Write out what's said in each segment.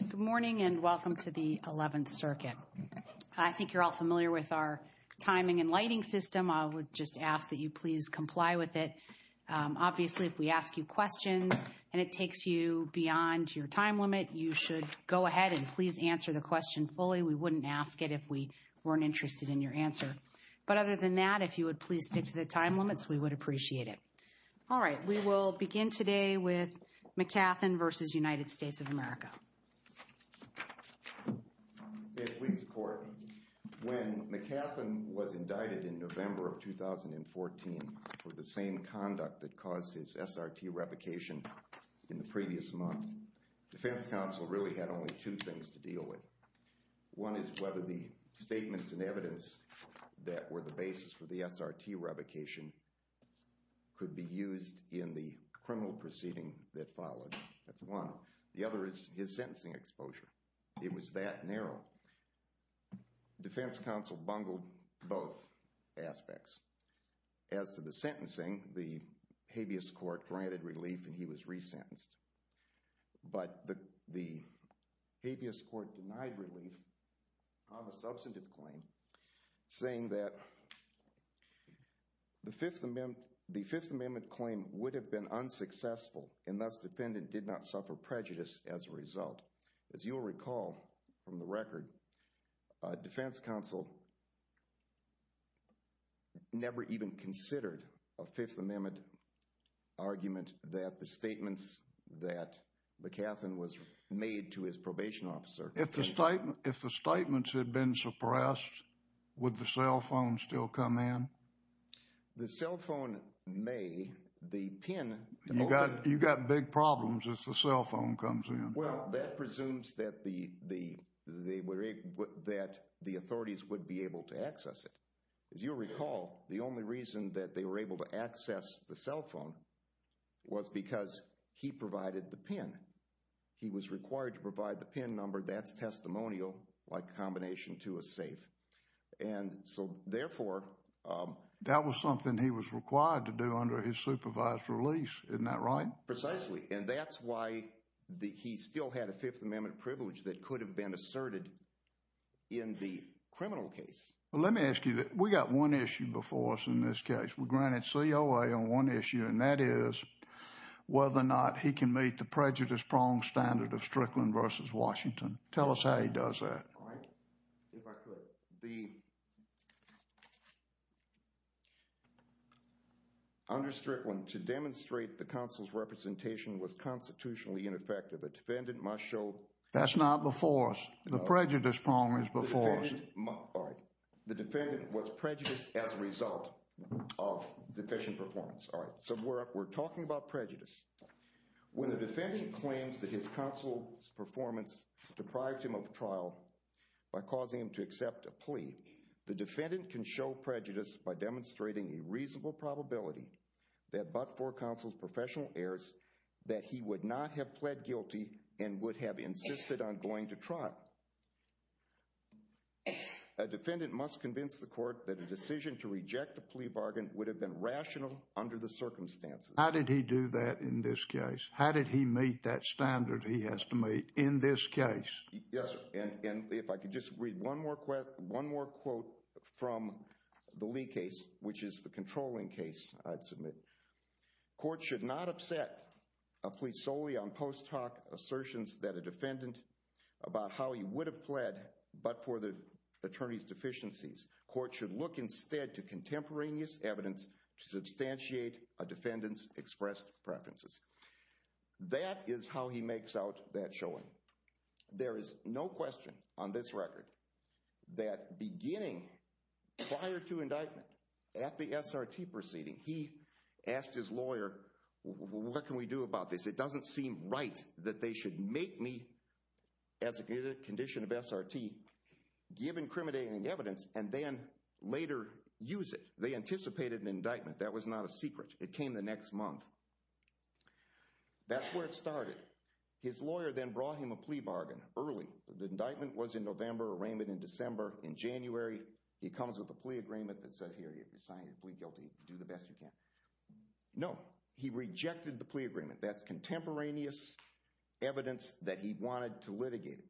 Good morning and welcome to the 11th circuit. I think you're all familiar with our timing and lighting system. I would just ask that you please comply with it. Obviously, if we ask you questions and it takes you beyond your time limit, you should go ahead and please answer the question fully. We wouldn't ask it if we weren't interested in your answer. But other than that, if you would please stick to the time limits, we would appreciate it. All right, we will begin today with McKathan v. United States of America. If we support, when McKathan was indicted in November of 2014 for the same conduct that caused his SRT revocation in the previous month, Defense Counsel really had only two things to deal with. One is whether the statements and evidence that were the basis for the SRT revocation could be used in the criminal proceeding that followed. That's one. The other is his sentencing exposure. It was that narrow. Defense Counsel bungled both aspects. As to the sentencing, the habeas court granted relief and he was resentenced. But the habeas court denied relief on a substantive claim saying that the Fifth Amendment claim would have been unsuccessful and thus defendant did not suffer prejudice as a result. As you will recall from the record, Defense Counsel never even considered a Fifth Amendment argument that the statements that McKathan was made to his probation officer. If the statements had been suppressed, would the cell phone still come in? The cell phone may. You've got big problems if the cell phone comes in. Well, that presumes that the authorities would be able to access it. As you recall, the only reason that they were able to access the cell phone was because he provided the pin. He was required to provide the pin number. That's testimonial like combination to a safe. And so, therefore, that was something he was required to do under his supervised release. Isn't that right? Precisely. And that's why he still had a Fifth Amendment privilege that could have been asserted in the criminal case. Let me ask you that we got one issue before us in this case. We granted COA on one issue and that is whether or not the defendant was prejudiced as a result of deficient performance. All right. So, we're talking about prejudice. When the defendant claims that his counsel's performance deprived him of trial by causing him to accept a plea, the defendant can show prejudice by demonstrating a reasonable probability that but for counsel's professional errors that he would not have pled guilty and would have insisted on going to trial. A defendant must convince the court that a decision to reject a plea bargain would have been rational under the circumstances. How did he do that in this case? How did he meet that standard he has to meet in this case? Yes, and if I could just read one more quote from the Lee case, which is the controlling case, I'd submit. Court should not upset a plea solely on post hoc assertions that a defendant about how he would have pled but for the attorney's deficiencies. Court should look instead to contemporaneous evidence to substantiate a defendant's expressed preferences. That is how he makes out that showing. There is no question on this record that beginning prior to indictment at the SRT proceeding, he asked his lawyer, what can we do about this? It doesn't seem right that they should make me, as a condition of SRT, give incriminating evidence and then later use it. They anticipated an indictment. That was not a secret. It came the next month. That's where it started. His lawyer then brought him a plea bargain early. The indictment was in November, arraignment in December. In January, he comes with a plea agreement that says, here, you sign your plea guilty, do the best you can. No, he rejected the plea agreement. That's contemporaneous evidence that he wanted to litigate.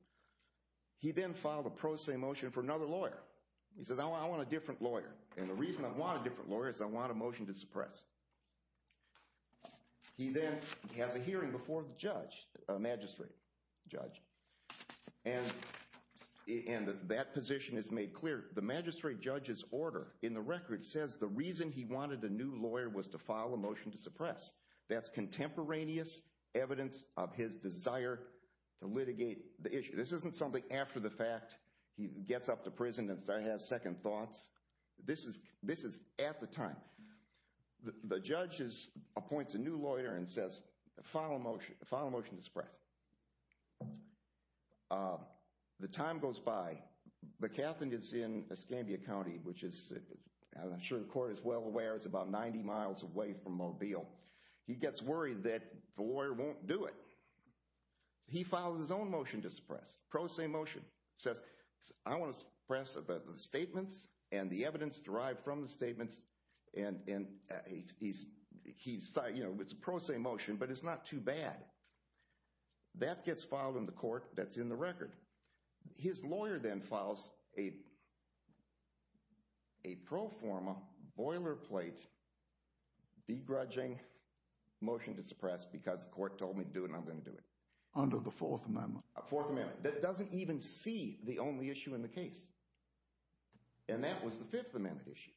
He then filed a pro se motion for another lawyer. He said, I want a different lawyer, and the reason I want a different lawyer is I want a motion to suppress. He then has a hearing before the judge, a magistrate judge, and that position is made clear. The magistrate judge's order in the record says the reason he wanted a new lawyer was to file a motion to suppress. That's contemporaneous evidence of his desire to litigate the issue. This isn't something after the fact, he gets up to prison and says, I have second thoughts. This is at the time. The judge appoints a new lawyer and says, file a motion to suppress. The time goes by. The captain is in Escambia County, which I'm sure the court is well aware is about 90 miles away from Mobile. He gets worried that the lawyer won't do it. He files his own motion to suppress, a pro se motion. He says, I want to suppress the statements and the evidence derived from the statements. It's a pro se motion, but it's not too bad. That gets filed in the court that's in the record. His lawyer then files a pro forma, boilerplate, begrudging motion to suppress because the court told me to do it and I'm going to do it. Under the Fourth Amendment. Fourth Amendment. That doesn't even see the only issue in the case. And that was the Fifth Amendment issue.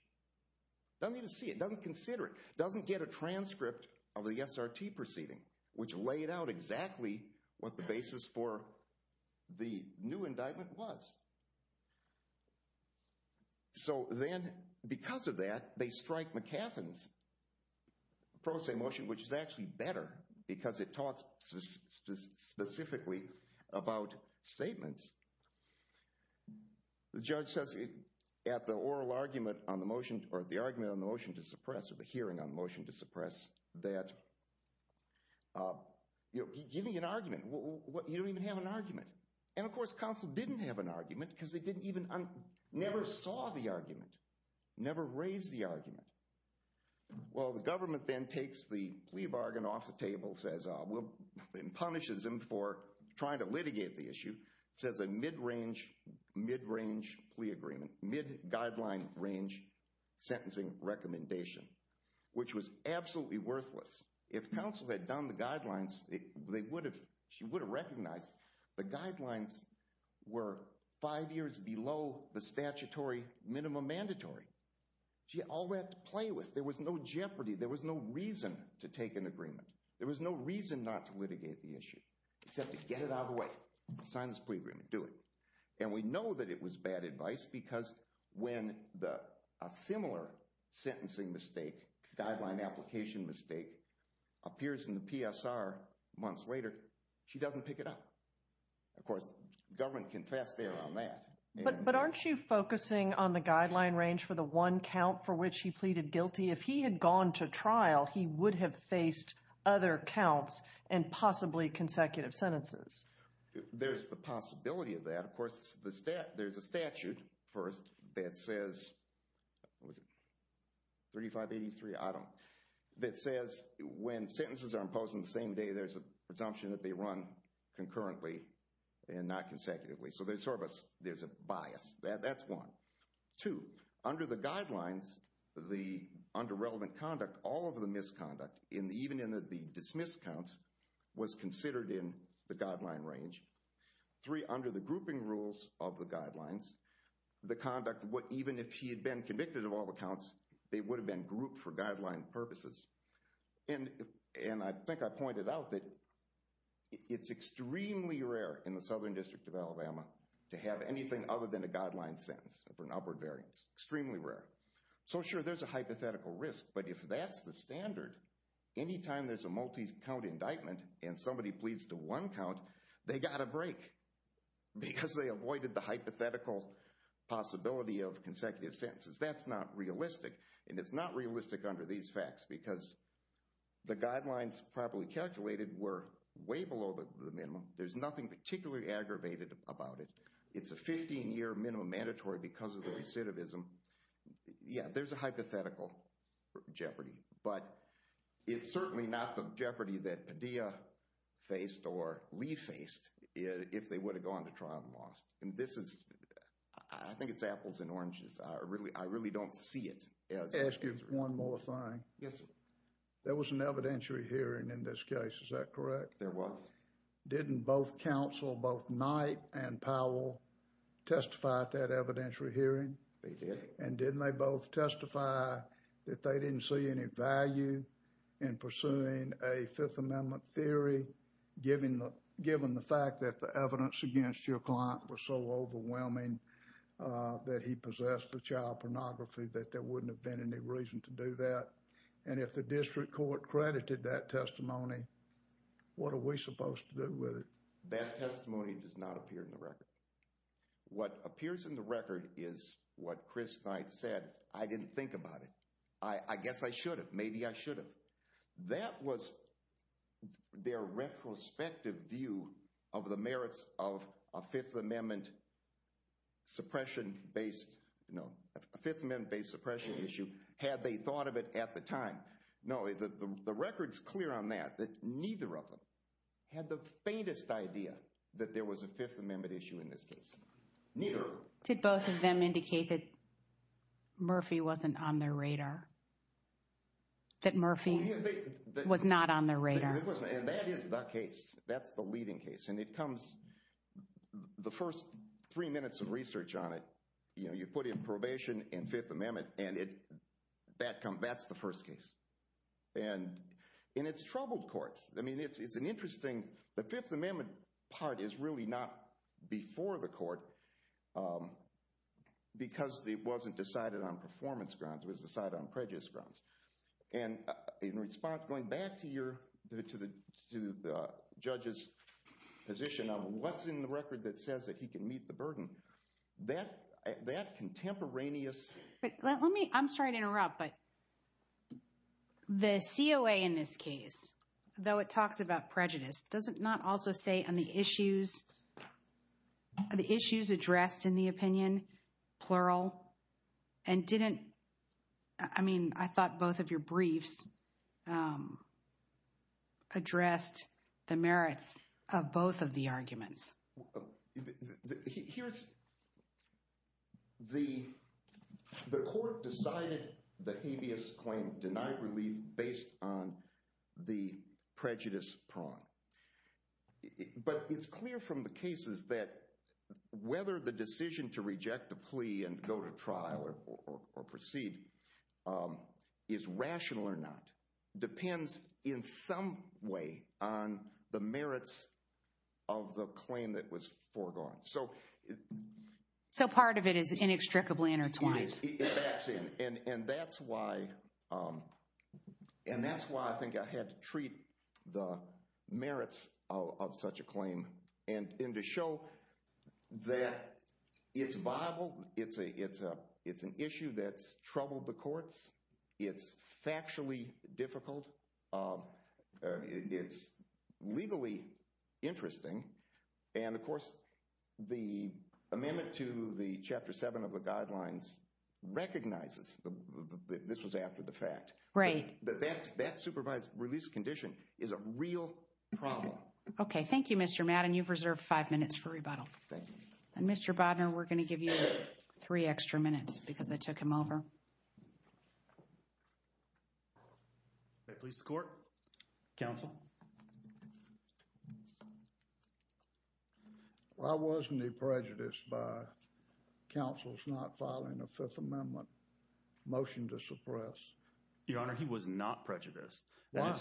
Doesn't even see it. Doesn't consider it. Doesn't get a transcript of the SRT proceeding, which laid out exactly what the basis for the new indictment was. So then, because of that, they strike McAfeen's pro se motion, which is actually better because it talks specifically about statements. The judge says at the oral argument on the motion, or the argument on the motion to suppress, or the hearing on the motion to suppress, that, you know, giving an argument, you don't even have an argument. And of course, counsel didn't have an argument because they didn't even, never saw the argument. Never raised the argument. Well, the government then takes the plea bargain off the table and punishes them for trying to litigate the issue. Says a mid-range, mid-range plea agreement, mid-guideline range sentencing recommendation, which was absolutely worthless. If counsel had done the guidelines, she would have recognized the guidelines were five years below the statutory minimum mandatory. She had all that to play with. There was no jeopardy. There was no reason to take an agreement. There was no reason not to litigate the issue, except to get it out of the way. Sign this plea agreement. Do it. And we know that it was bad advice because when a similar sentencing mistake, guideline application mistake, appears in the PSR months later, she doesn't pick it up. Of course, the government can fast stay around that. But aren't you focusing on the guideline range for the one count for which he pleaded guilty? If he had gone to trial, he would have faced other counts and possibly consecutive sentences. There's the possibility of that. Of course, there's a statute that says, what was it, 3583, I don't, that says when sentences are imposed on the same day, there's a presumption that they run concurrently and not consecutively. So there's a bias. That's one. Two, under the guidelines, the underrelevant conduct, all of the misconduct, even in the dismissed counts, was considered in the guideline range. Three, under the grouping rules of the guidelines, the conduct, even if he had been convicted of all the counts, they would have been grouped for guideline purposes. And I think I pointed out that it's extremely rare in the Southern District of Alabama to have anything other than a guideline sentence for an upward variance. Extremely rare. So sure, there's a hypothetical risk. But if that's the standard, any time there's a multi-count indictment and somebody pleads to one count, they got a break. Because they avoided the hypothetical possibility of consecutive sentences. That's not realistic, and it's not realistic under these facts because the guidelines probably calculated were way below the minimum. There's nothing particularly aggravated about it. It's a 15-year minimum mandatory because of the recidivism. Yeah, there's a hypothetical jeopardy. But it's certainly not the jeopardy that Padilla faced or Lee faced if they would have gone to trial and lost. And this is, I think it's apples and oranges. I really don't see it. Let me ask you one more thing. Yes, sir. There was an evidentiary hearing in this case, is that correct? There was. Didn't both counsel, both Knight and Powell, testify at that evidentiary hearing? They did. And didn't they both testify that they didn't see any value in pursuing a Fifth Amendment theory given the fact that the evidence against your client was so overwhelming that he possessed the child pornography that there wouldn't have been any reason to do that? And if the district court credited that testimony, what are we supposed to do with it? That testimony does not appear in the record. What appears in the record is what Chris Knight said. I didn't think about it. I guess I should have. Maybe I should have. That was their retrospective view of the merits of a Fifth Amendment suppression-based, you know, a Fifth Amendment-based suppression issue had they thought of it at the time. No, the record's clear on that, that neither of them had the faintest idea that there was a Fifth Amendment issue in this case. Neither. Did both of them indicate that Murphy wasn't on their radar? That Murphy was not on their radar. And that is the case. That's the leading case. And it comes, the first three minutes of research on it, you know, you put in probation and Fifth Amendment and that's the first case. And it's troubled courts. I mean, it's an interesting, the Fifth Amendment part is really not before the court because it wasn't decided on performance grounds. It was decided on prejudice grounds. And in response, going back to your, to the judge's position of what's in the record that says that he can meet the burden, that contemporaneous... Let me, I'm sorry to interrupt, but the COA in this case, though it talks about prejudice, does it not also say on the issues, the issues addressed in the opinion, plural, and didn't, I mean, I thought both of your briefs addressed the merits of both of the arguments. Here's, the court decided the habeas claim, denied relief based on the prejudice prong. But it's clear from the cases that whether the decision to reject the plea and go to trial or proceed is rational or not, depends in some way on the merits of the claim that was foregone. So, So part of it is inextricably intertwined. And that's why, and that's why I think I had to treat the merits of such a claim and to show that it's viable, it's an issue that's troubled the courts, it's factually difficult, it's legally interesting, and of course the amendment to the Chapter 7 of the Guidelines recognizes that this was after the fact. Right. That supervised release condition is a real problem. Okay. Thank you, Mr. Madden. You've reserved five minutes for rebuttal. Thank you. And Mr. Bodner, we're going to give you three extra minutes because I took him over. May I please have the court? Counsel. Why wasn't he prejudiced by counsel's not filing a Fifth Amendment motion to suppress? Your Honor, he was not prejudiced. Why?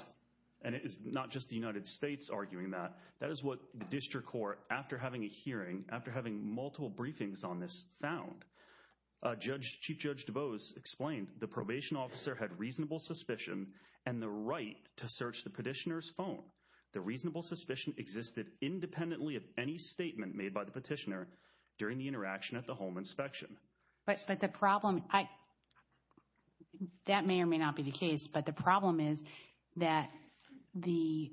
And it's not just the United States arguing that. That is what the district court, after having a hearing, after having multiple briefings on this, found. Chief Judge DuBose explained the probation officer had reasonable suspicion and the right to search the petitioner's phone. The reasonable suspicion existed independently of any statement made by the petitioner during the interaction at the home inspection. But the problem, that may or may not be the case, but the problem is that the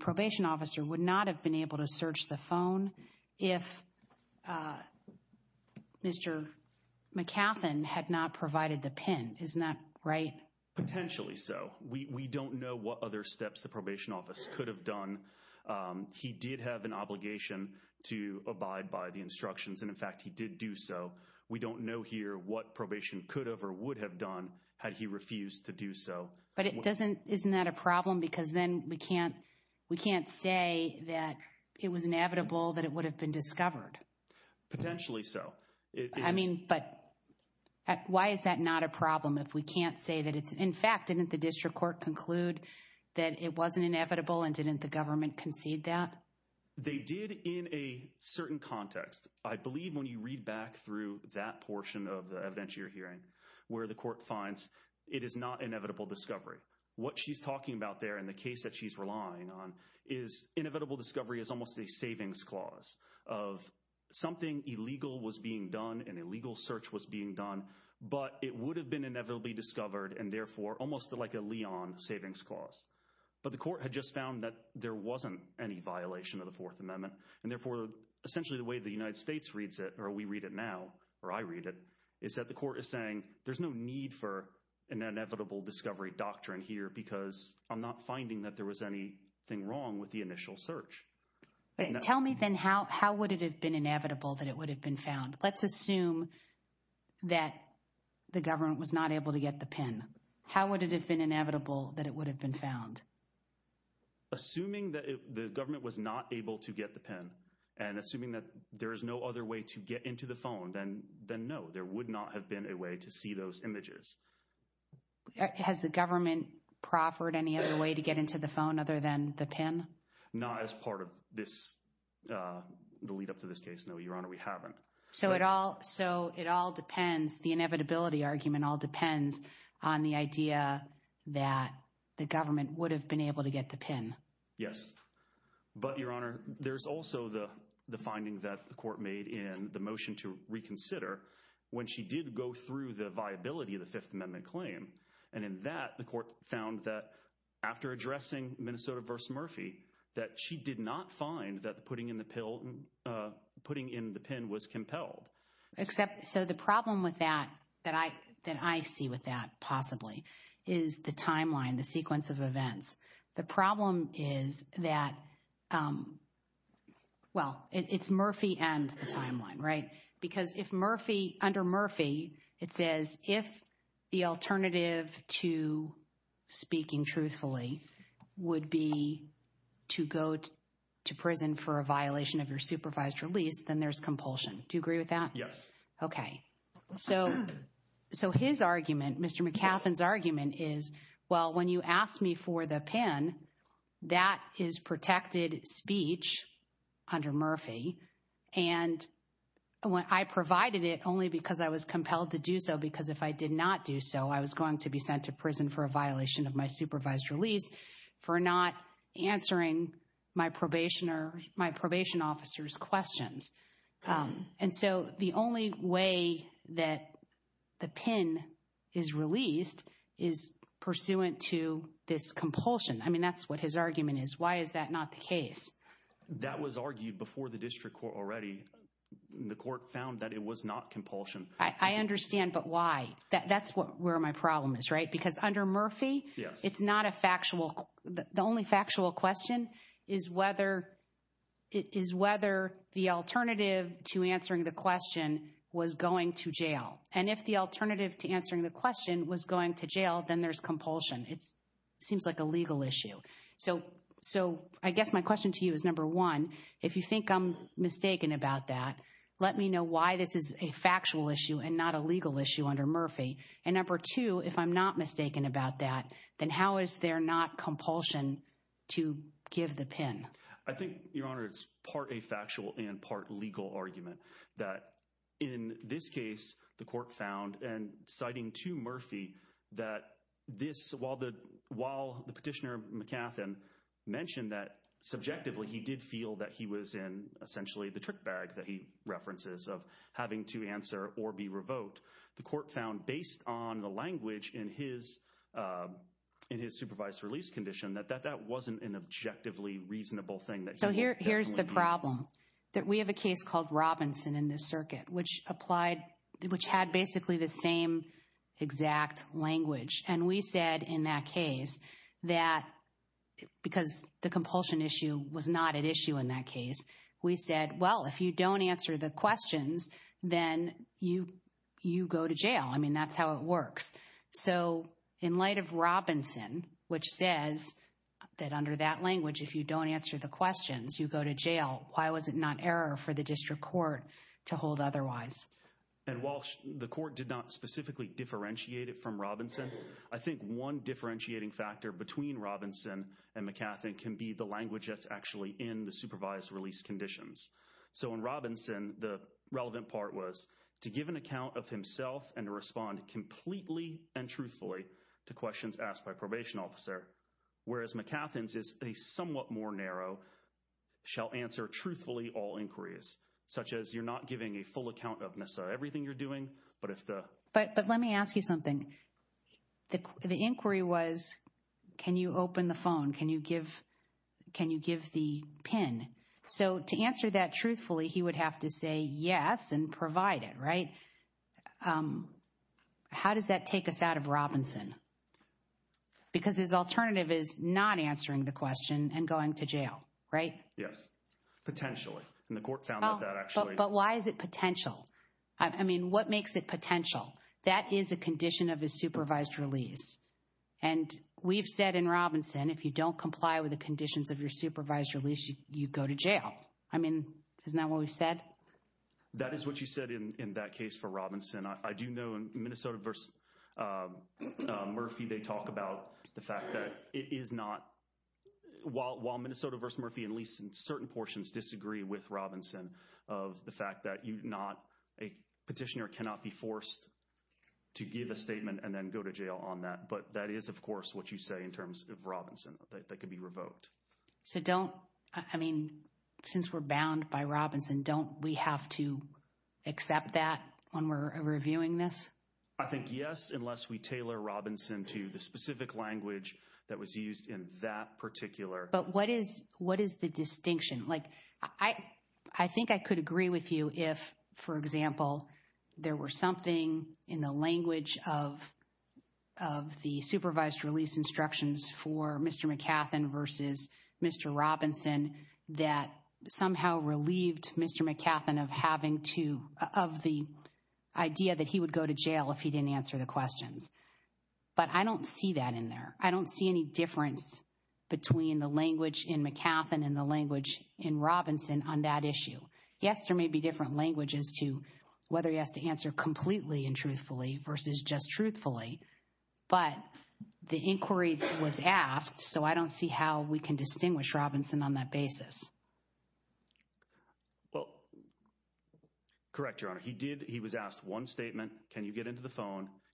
probation officer would not have been able to search the phone if Mr. McAfeen had not provided the pen. Isn't that right? Potentially so. We don't know what other steps the probation office could have done. He did have an obligation to abide by the instructions and, in fact, he did do so. We don't know here what probation could have or would have done had he refused to do so. But isn't that a problem? Because then we can't say that it was inevitable that it would have been discovered. Potentially so. But why is that not a problem if we can't say that it's, in fact, didn't the district court conclude that it wasn't inevitable and didn't the government concede that? They did in a certain context. I believe when you read back through that portion of the evidentiary hearing where the court finds it is not inevitable discovery. What she's talking about there in the case that she's relying on is inevitable discovery is almost a savings clause of something illegal was being done, an illegal search was being done, but it would have been inevitably discovered and, therefore, almost like a Leon savings clause. But the court had just found that there wasn't any violation of the Fourth Amendment and, therefore, essentially the way the United States reads it or we read it now or I read it is that the court is saying there's no need for an inevitable discovery doctrine here because I'm not finding that there was anything wrong with the initial search. Tell me, then, how would it have been inevitable that it would have been found? Let's assume that the government was not able to get the pen. How would it have been inevitable that it would have been found? Assuming that the government was not able to get the pen and assuming that there is no other way to get into the phone then, no, there would not have been a way to see those images. Has the government proffered any other way to get into the phone other than the pen? Not as part of this the lead up to this case. No, Your Honor, we haven't. So it all depends, the inevitability argument all depends on the idea that the government would have been able to get the pen. Yes. But, Your Honor, there's also the finding that the court made in the motion to reconsider when she did go through the viability of the Fifth Amendment claim and in that the court found that after addressing Minnesota v. Murphy that she did not find that putting in the pill putting in the pen was compelled. Except so the problem with that that I see with that possibly is the timeline the sequence of events the problem is that well it's Murphy and the timeline right because if Murphy under Murphy it says if the alternative to speaking truthfully would be to go to prison for a violation of your supervised release then there's compulsion. Do you agree with that? Yes. Okay. So his argument Mr. McAfeen's argument is well when you asked me for the pen that is protected speech under Murphy and when I provided it only because I was compelled to do so because if I did not do so I was going to be sent to prison for a violation of my supervised release for not answering my probation officer's questions and so the only way that the pen is released is pursuant to this compulsion. I mean that's what his argument is. Why is that not the case? That was argued before the district court already. The court found that it was not compulsion. I understand but why? That's where my problem is right? Because under Murphy it's not a factual the only factual question is whether the alternative to answering the question was going to jail and if the alternative to answering the question was going to jail then there's compulsion. It seems like a legal issue. So I guess my question to you is number one if you think I'm mistaken about that let me know why this is a factual issue and not a legal issue under Murphy and number two if I'm not mistaken about that then how is there not compulsion to give the pin? I think your honor it's part a factual and part legal argument that in this case the court found and citing to Murphy that this while the petitioner mentioned that subjectively he did feel that he was in essentially the trick bag that he references of having to answer or be revoked the court found based on the language in his supervised release condition that that wasn't an objectively reasonable thing here's the problem we have a case called Robinson in this circuit which had basically the same exact language and we said in that case that because the compulsion issue was not at issue in that case we said well if you don't answer the questions then you go to jail that's how it works so in light of Robinson which says that under that language if you don't answer the questions you go to jail why was it not error for the district court to hold otherwise and while the court did not specifically differentiate it from Robinson I think one differentiating factor can be the language that's actually in the supervised release conditions so in Robinson the relevant part was to give an account of himself and respond completely and truthfully to questions asked by probation officer whereas it's more narrow shall answer truthfully all inquiries such as you're not giving a full account of everything you're for or asking for something the inquiry was can you open the phone can you give the pin so to answer that truthfully he would have to say yes and provide it right how does that take us out of Robinson because his alternative is not answering the question and going to jail right yes potentially the court found that actually but why is it potential I mean what makes it potential that is a condition of a supervised release and we've said in Robinson if you don't comply with the conditions of your supervised release you go to jail on that but that is of course what you say in terms of Robinson they can be revoked so don't I mean since we're bound by Robinson don't we have to accept that when we're reviewing this? I think yes unless we tailor Robinson to the specific language that was used in that particular but what is the distinction like I think I could agree with you if for example there were something in the language of the supervised release instructions for Mr. McCathin versus Mr. Robinson that somehow relieved Mr. McCathin of the idea he would go to jail if he didn't answer the questions but I don't see that in there. I don't see any difference between the language in McCathin and the language in Robinson on that issue. Yes, there may be different languages whether he has to answer completely and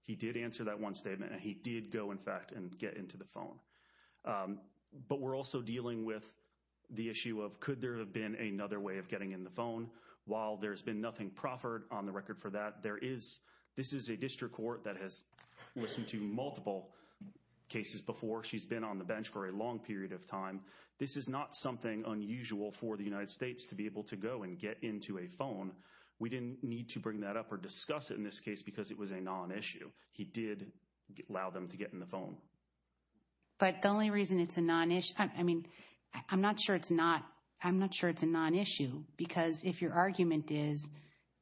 he did answer that one statement and he did go and get into the phone. But we're also dealing with the issue of could there have been another way of getting in the phone while there has been nothing proffered on the record for that. This is not something unusual for the United States to be able to go and get into a phone. We didn't need to bring that up or discuss it because it was a non-issue. He did allow them to get in the phone. I'm not sure it's a non-issue because if your argument is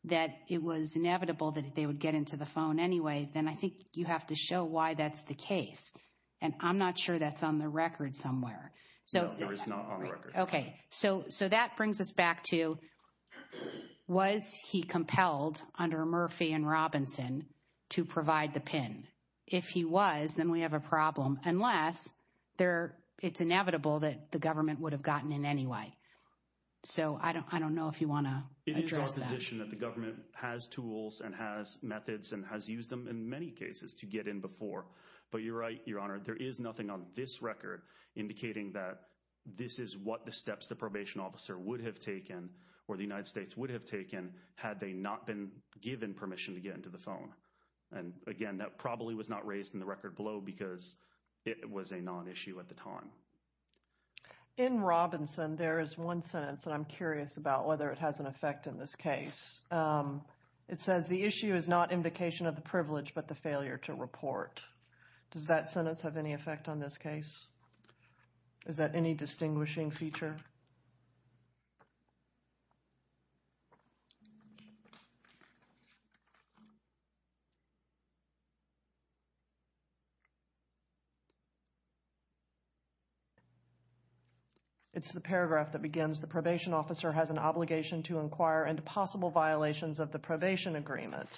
that it was inevitable they would get into the phone anyway, you have to show why that's the case. I'm not sure that's on the record somewhere. So that brings us back to was he compelled under Murphy and Robinson to provide the PIN. If he was, then we have a problem. Unless it's inevitable the government would have gotten in anyway. I don't know if you want to address that. The government has tools and methods and has used them in many cases to get in before. There's nothing on this record indicating that this is what the steps the probation officer would have taken had they not been given permission to get into the phone. That probably was not raised in the record because it was a non-issue at the time. In Robinson there's one sentence I'm curious about. Is that any distinguishing feature? It's the paragraph that begins the probation officer has an obligation to inquire into possible violations of the probation agreement.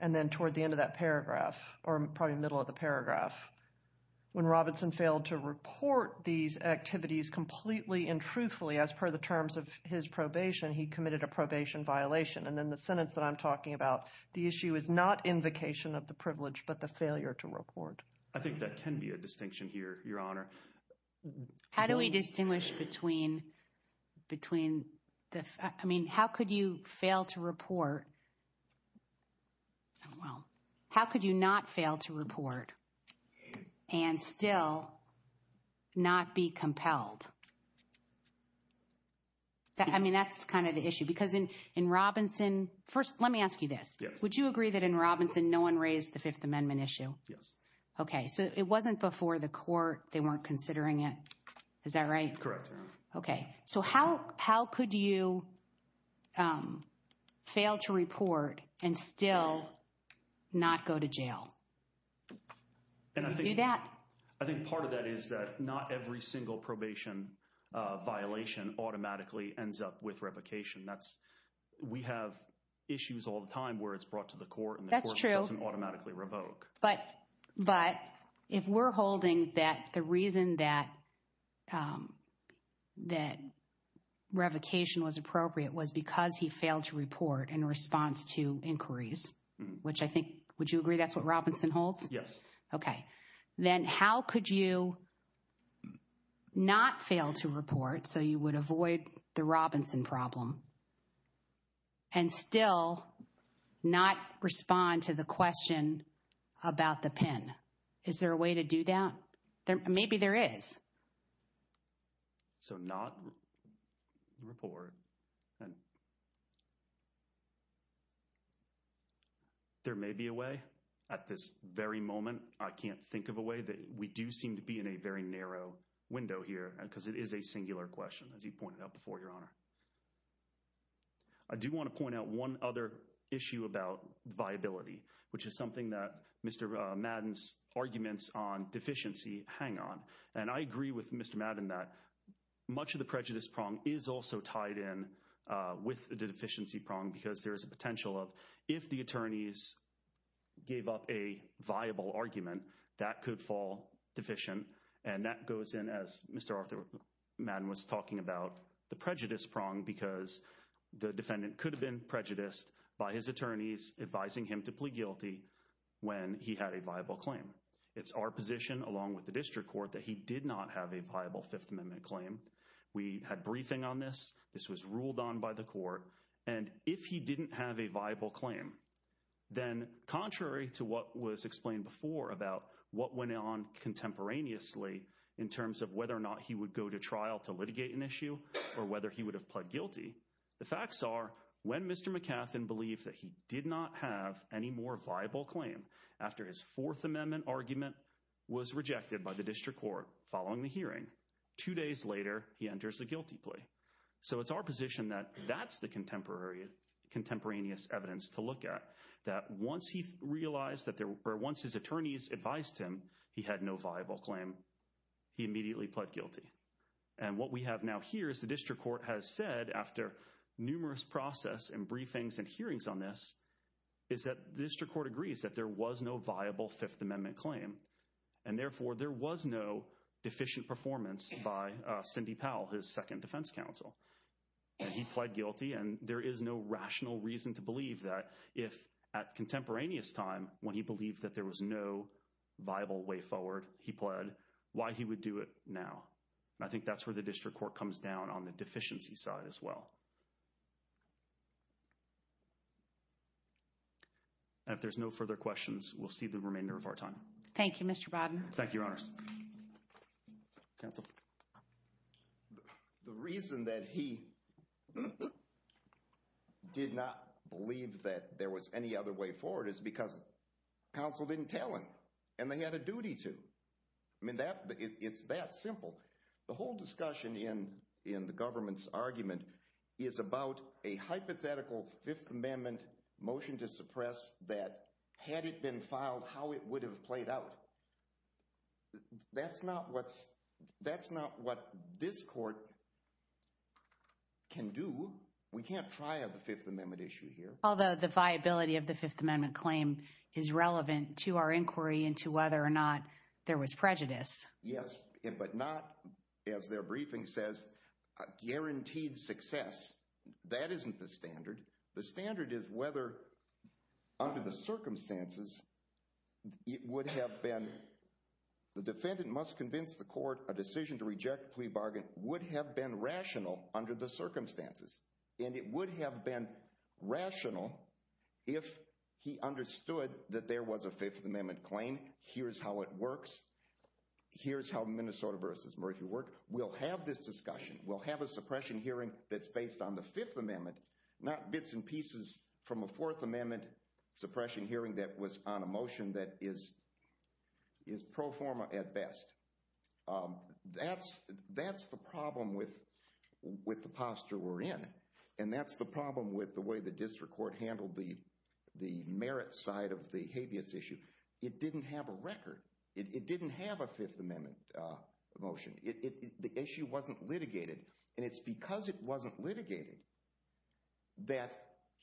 And then toward the end of that paragraph or probably middle of the paragraph. When Robinson failed to reach the probation officer, he committed a probation violation. The issue is not invocation of the privilege but the failure to report. I think that can be a distinction here, your honor. How do we distinguish between the how could you fail to report and still not be compelled? That's kind of the issue. In Robinson, let me ask you this, would you agree that in Robinson no one raised the fifth amendment issue? It wasn't before the court they weren't considering it. How could you fail to report and still not go to jail? I think part of that is that not every single probation violation automatically ends up with revocation. We have issues all the time where it's brought to the court and it doesn't automatically revoke. But if we're holding that the reason that revocation was appropriate was because he failed to report in response to inquiries, would you agree that's what Robinson holds? Yes. How could you not fail to report so you would avoid the Robinson problem and still not respond to the question about the pen? Is there a way to do that? Maybe there is. So not report. There may be a way at this very moment. I can't think of a way. We do seem to be in a very narrow window here because it is a singular question. I do want to point out one other issue about viability, which is something that Mr. Arthur was talking about. I agree with Mr. Madden that much of the prejudice prong is tied in with the deficiency prong. If the attorneys gave up a viable argument, that could fall deficient. That goes in as Mr. Arthur Madden was talking about the prejudice prong because the defendant could have been prejudiced by his attorneys advising him to plead guilty when he had a viable claim. We had briefing on this. This was ruled on by the court. If he didn't have a viable claim, then contrary to what was explained before about what went on contemporaneously in terms of whether or not he would go to trial to litigate an issue or whether he would have pled guilty, the facts are when he did not have any more viable claim after his fourth amendment argument was rejected by the district court, there was no viable fifth amendment claim. The district court has said after numerous process and briefings and hearings on this is that the district court agrees that there was no viable fifth amendment claim. There was no deficient performance by Cindy Powell. He pled guilty and there is no rational reason to believe that if at contemporaneous time when he believed there was no viable way forward he pled why he would do it now. I think that's where the district court comes down on the deficiency side as well. And if there's no further questions, we'll see the remainder of our time. Thank you, Mr. Bodden. Thank you, Your Honors. The reason that he did not believe that there was any other way forward is because counsel didn't tell him and they had a duty to. It's that the argument is about a hypothetical Fifth Amendment motion to suppress that had it been filed how it would have played out. That's not what this court can do. We can't try a Fifth Amendment issue here. Although the viability of the Fifth Amendment claim is relevant to our inquiry into whether or not there was prejudice. Yes, but not, as their briefing says, guaranteed success. That isn't the standard. The standard is whether under the circumstances it would have been the defendant must convince the court a decision to reject the plea bargain would have been rational under the circumstances. And it would have been rational if he understood that there was a Fifth Amendment claim. Here's how it works. Here's how Minnesota v. Mercury works. We'll have a suppression hearing based on the Fifth Amendment, not bits and pieces from a Fourth Amendment suppression hearing on a motion that is pro forma at best. That's the problem with the way the district court handled the merit side of the habeas issue. It didn't have a record. It didn't have a Fifth Amendment motion. The issue wasn't litigated. And it's because it wasn't litigated that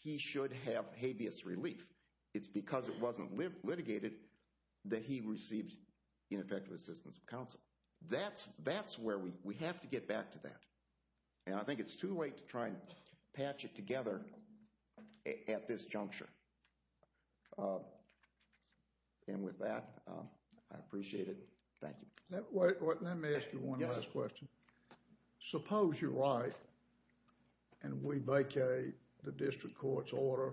he should have habeas relief. It's because it wasn't litigated that he received ineffective assistance from counsel. That's where we have to get back to that. And I think it's too late to try and patch it together at this juncture. And with that, I appreciate it. Thank you. Let me ask you one last question. Suppose you're right and we vacate the district court's case and we're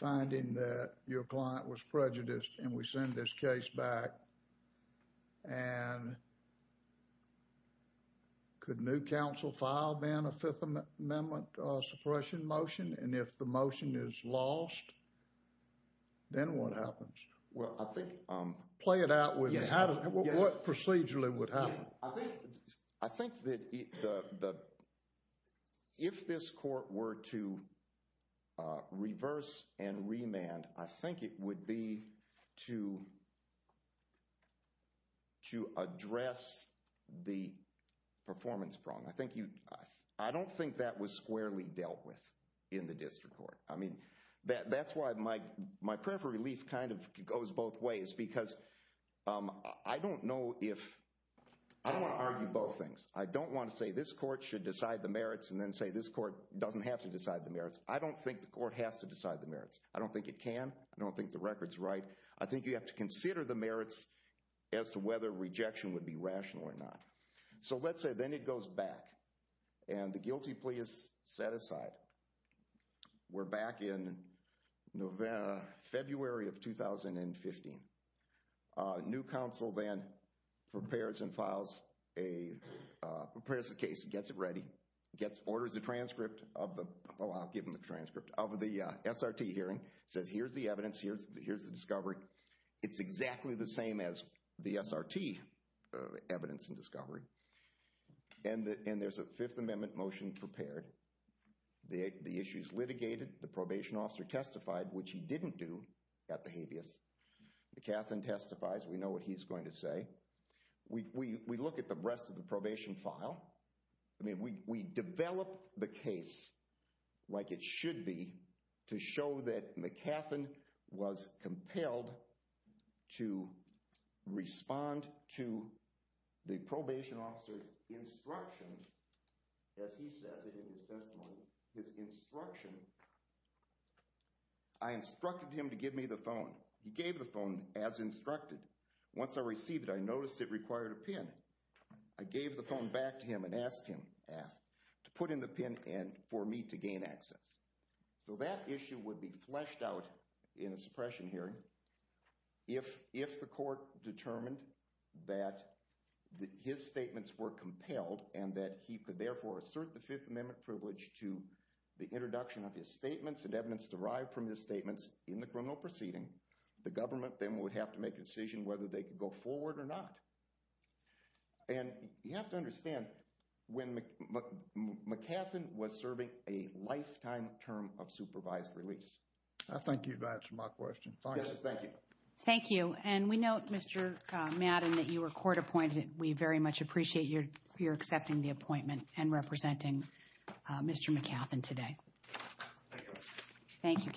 finding that your client was prejudiced and we send this case back and could new counsel file then a Fifth Amendment suppression motion and if the motion is lost, then what happens? Well, I think Play it out with me. What procedurally would happen? I think that if this court were to reverse and remand, I think it would be to address the performance problem. I don't think that was squarely dealt with in the district court. That's why my prayer for relief kind of goes both ways because I don't know if I want to argue both things. I don't want to say this court should decide the merits and say this court doesn't have to decide the merits. I don't think it can. I don't think the record is right. I think you have to consider the merits as to whether rejection would be the best I think you have to consider the merits as to whether the court can do the best to find the merits. We look at the rest of the probation file. We develop the case like it should be to show that McAfeen was compelled to respond to the probation officer's instructions as he says in his testimony. I instructed him to give me the phone. He gave the phone as instructed. Once I received it, I noticed it required a pin. I gave the phone back to him and asked him to put in the pin for me to gain access. So that issue would be fleshed out in a suppression hearing if the court determined that his statements were compelled and he could assert the fifth amendment privilege to the introduction of his statements. The government would have to make a decision whether they could go forward or not. You have to understand when McAfeen was serving a lifetime term of supervised free release. I thank you for answering my question. Thank you. Thank you. We note that you were court appointed. We appreciate Thank you counsel. Okay. Thank you. Thank you. Thank you. Thank you. We have a time limit of 45 minutes. The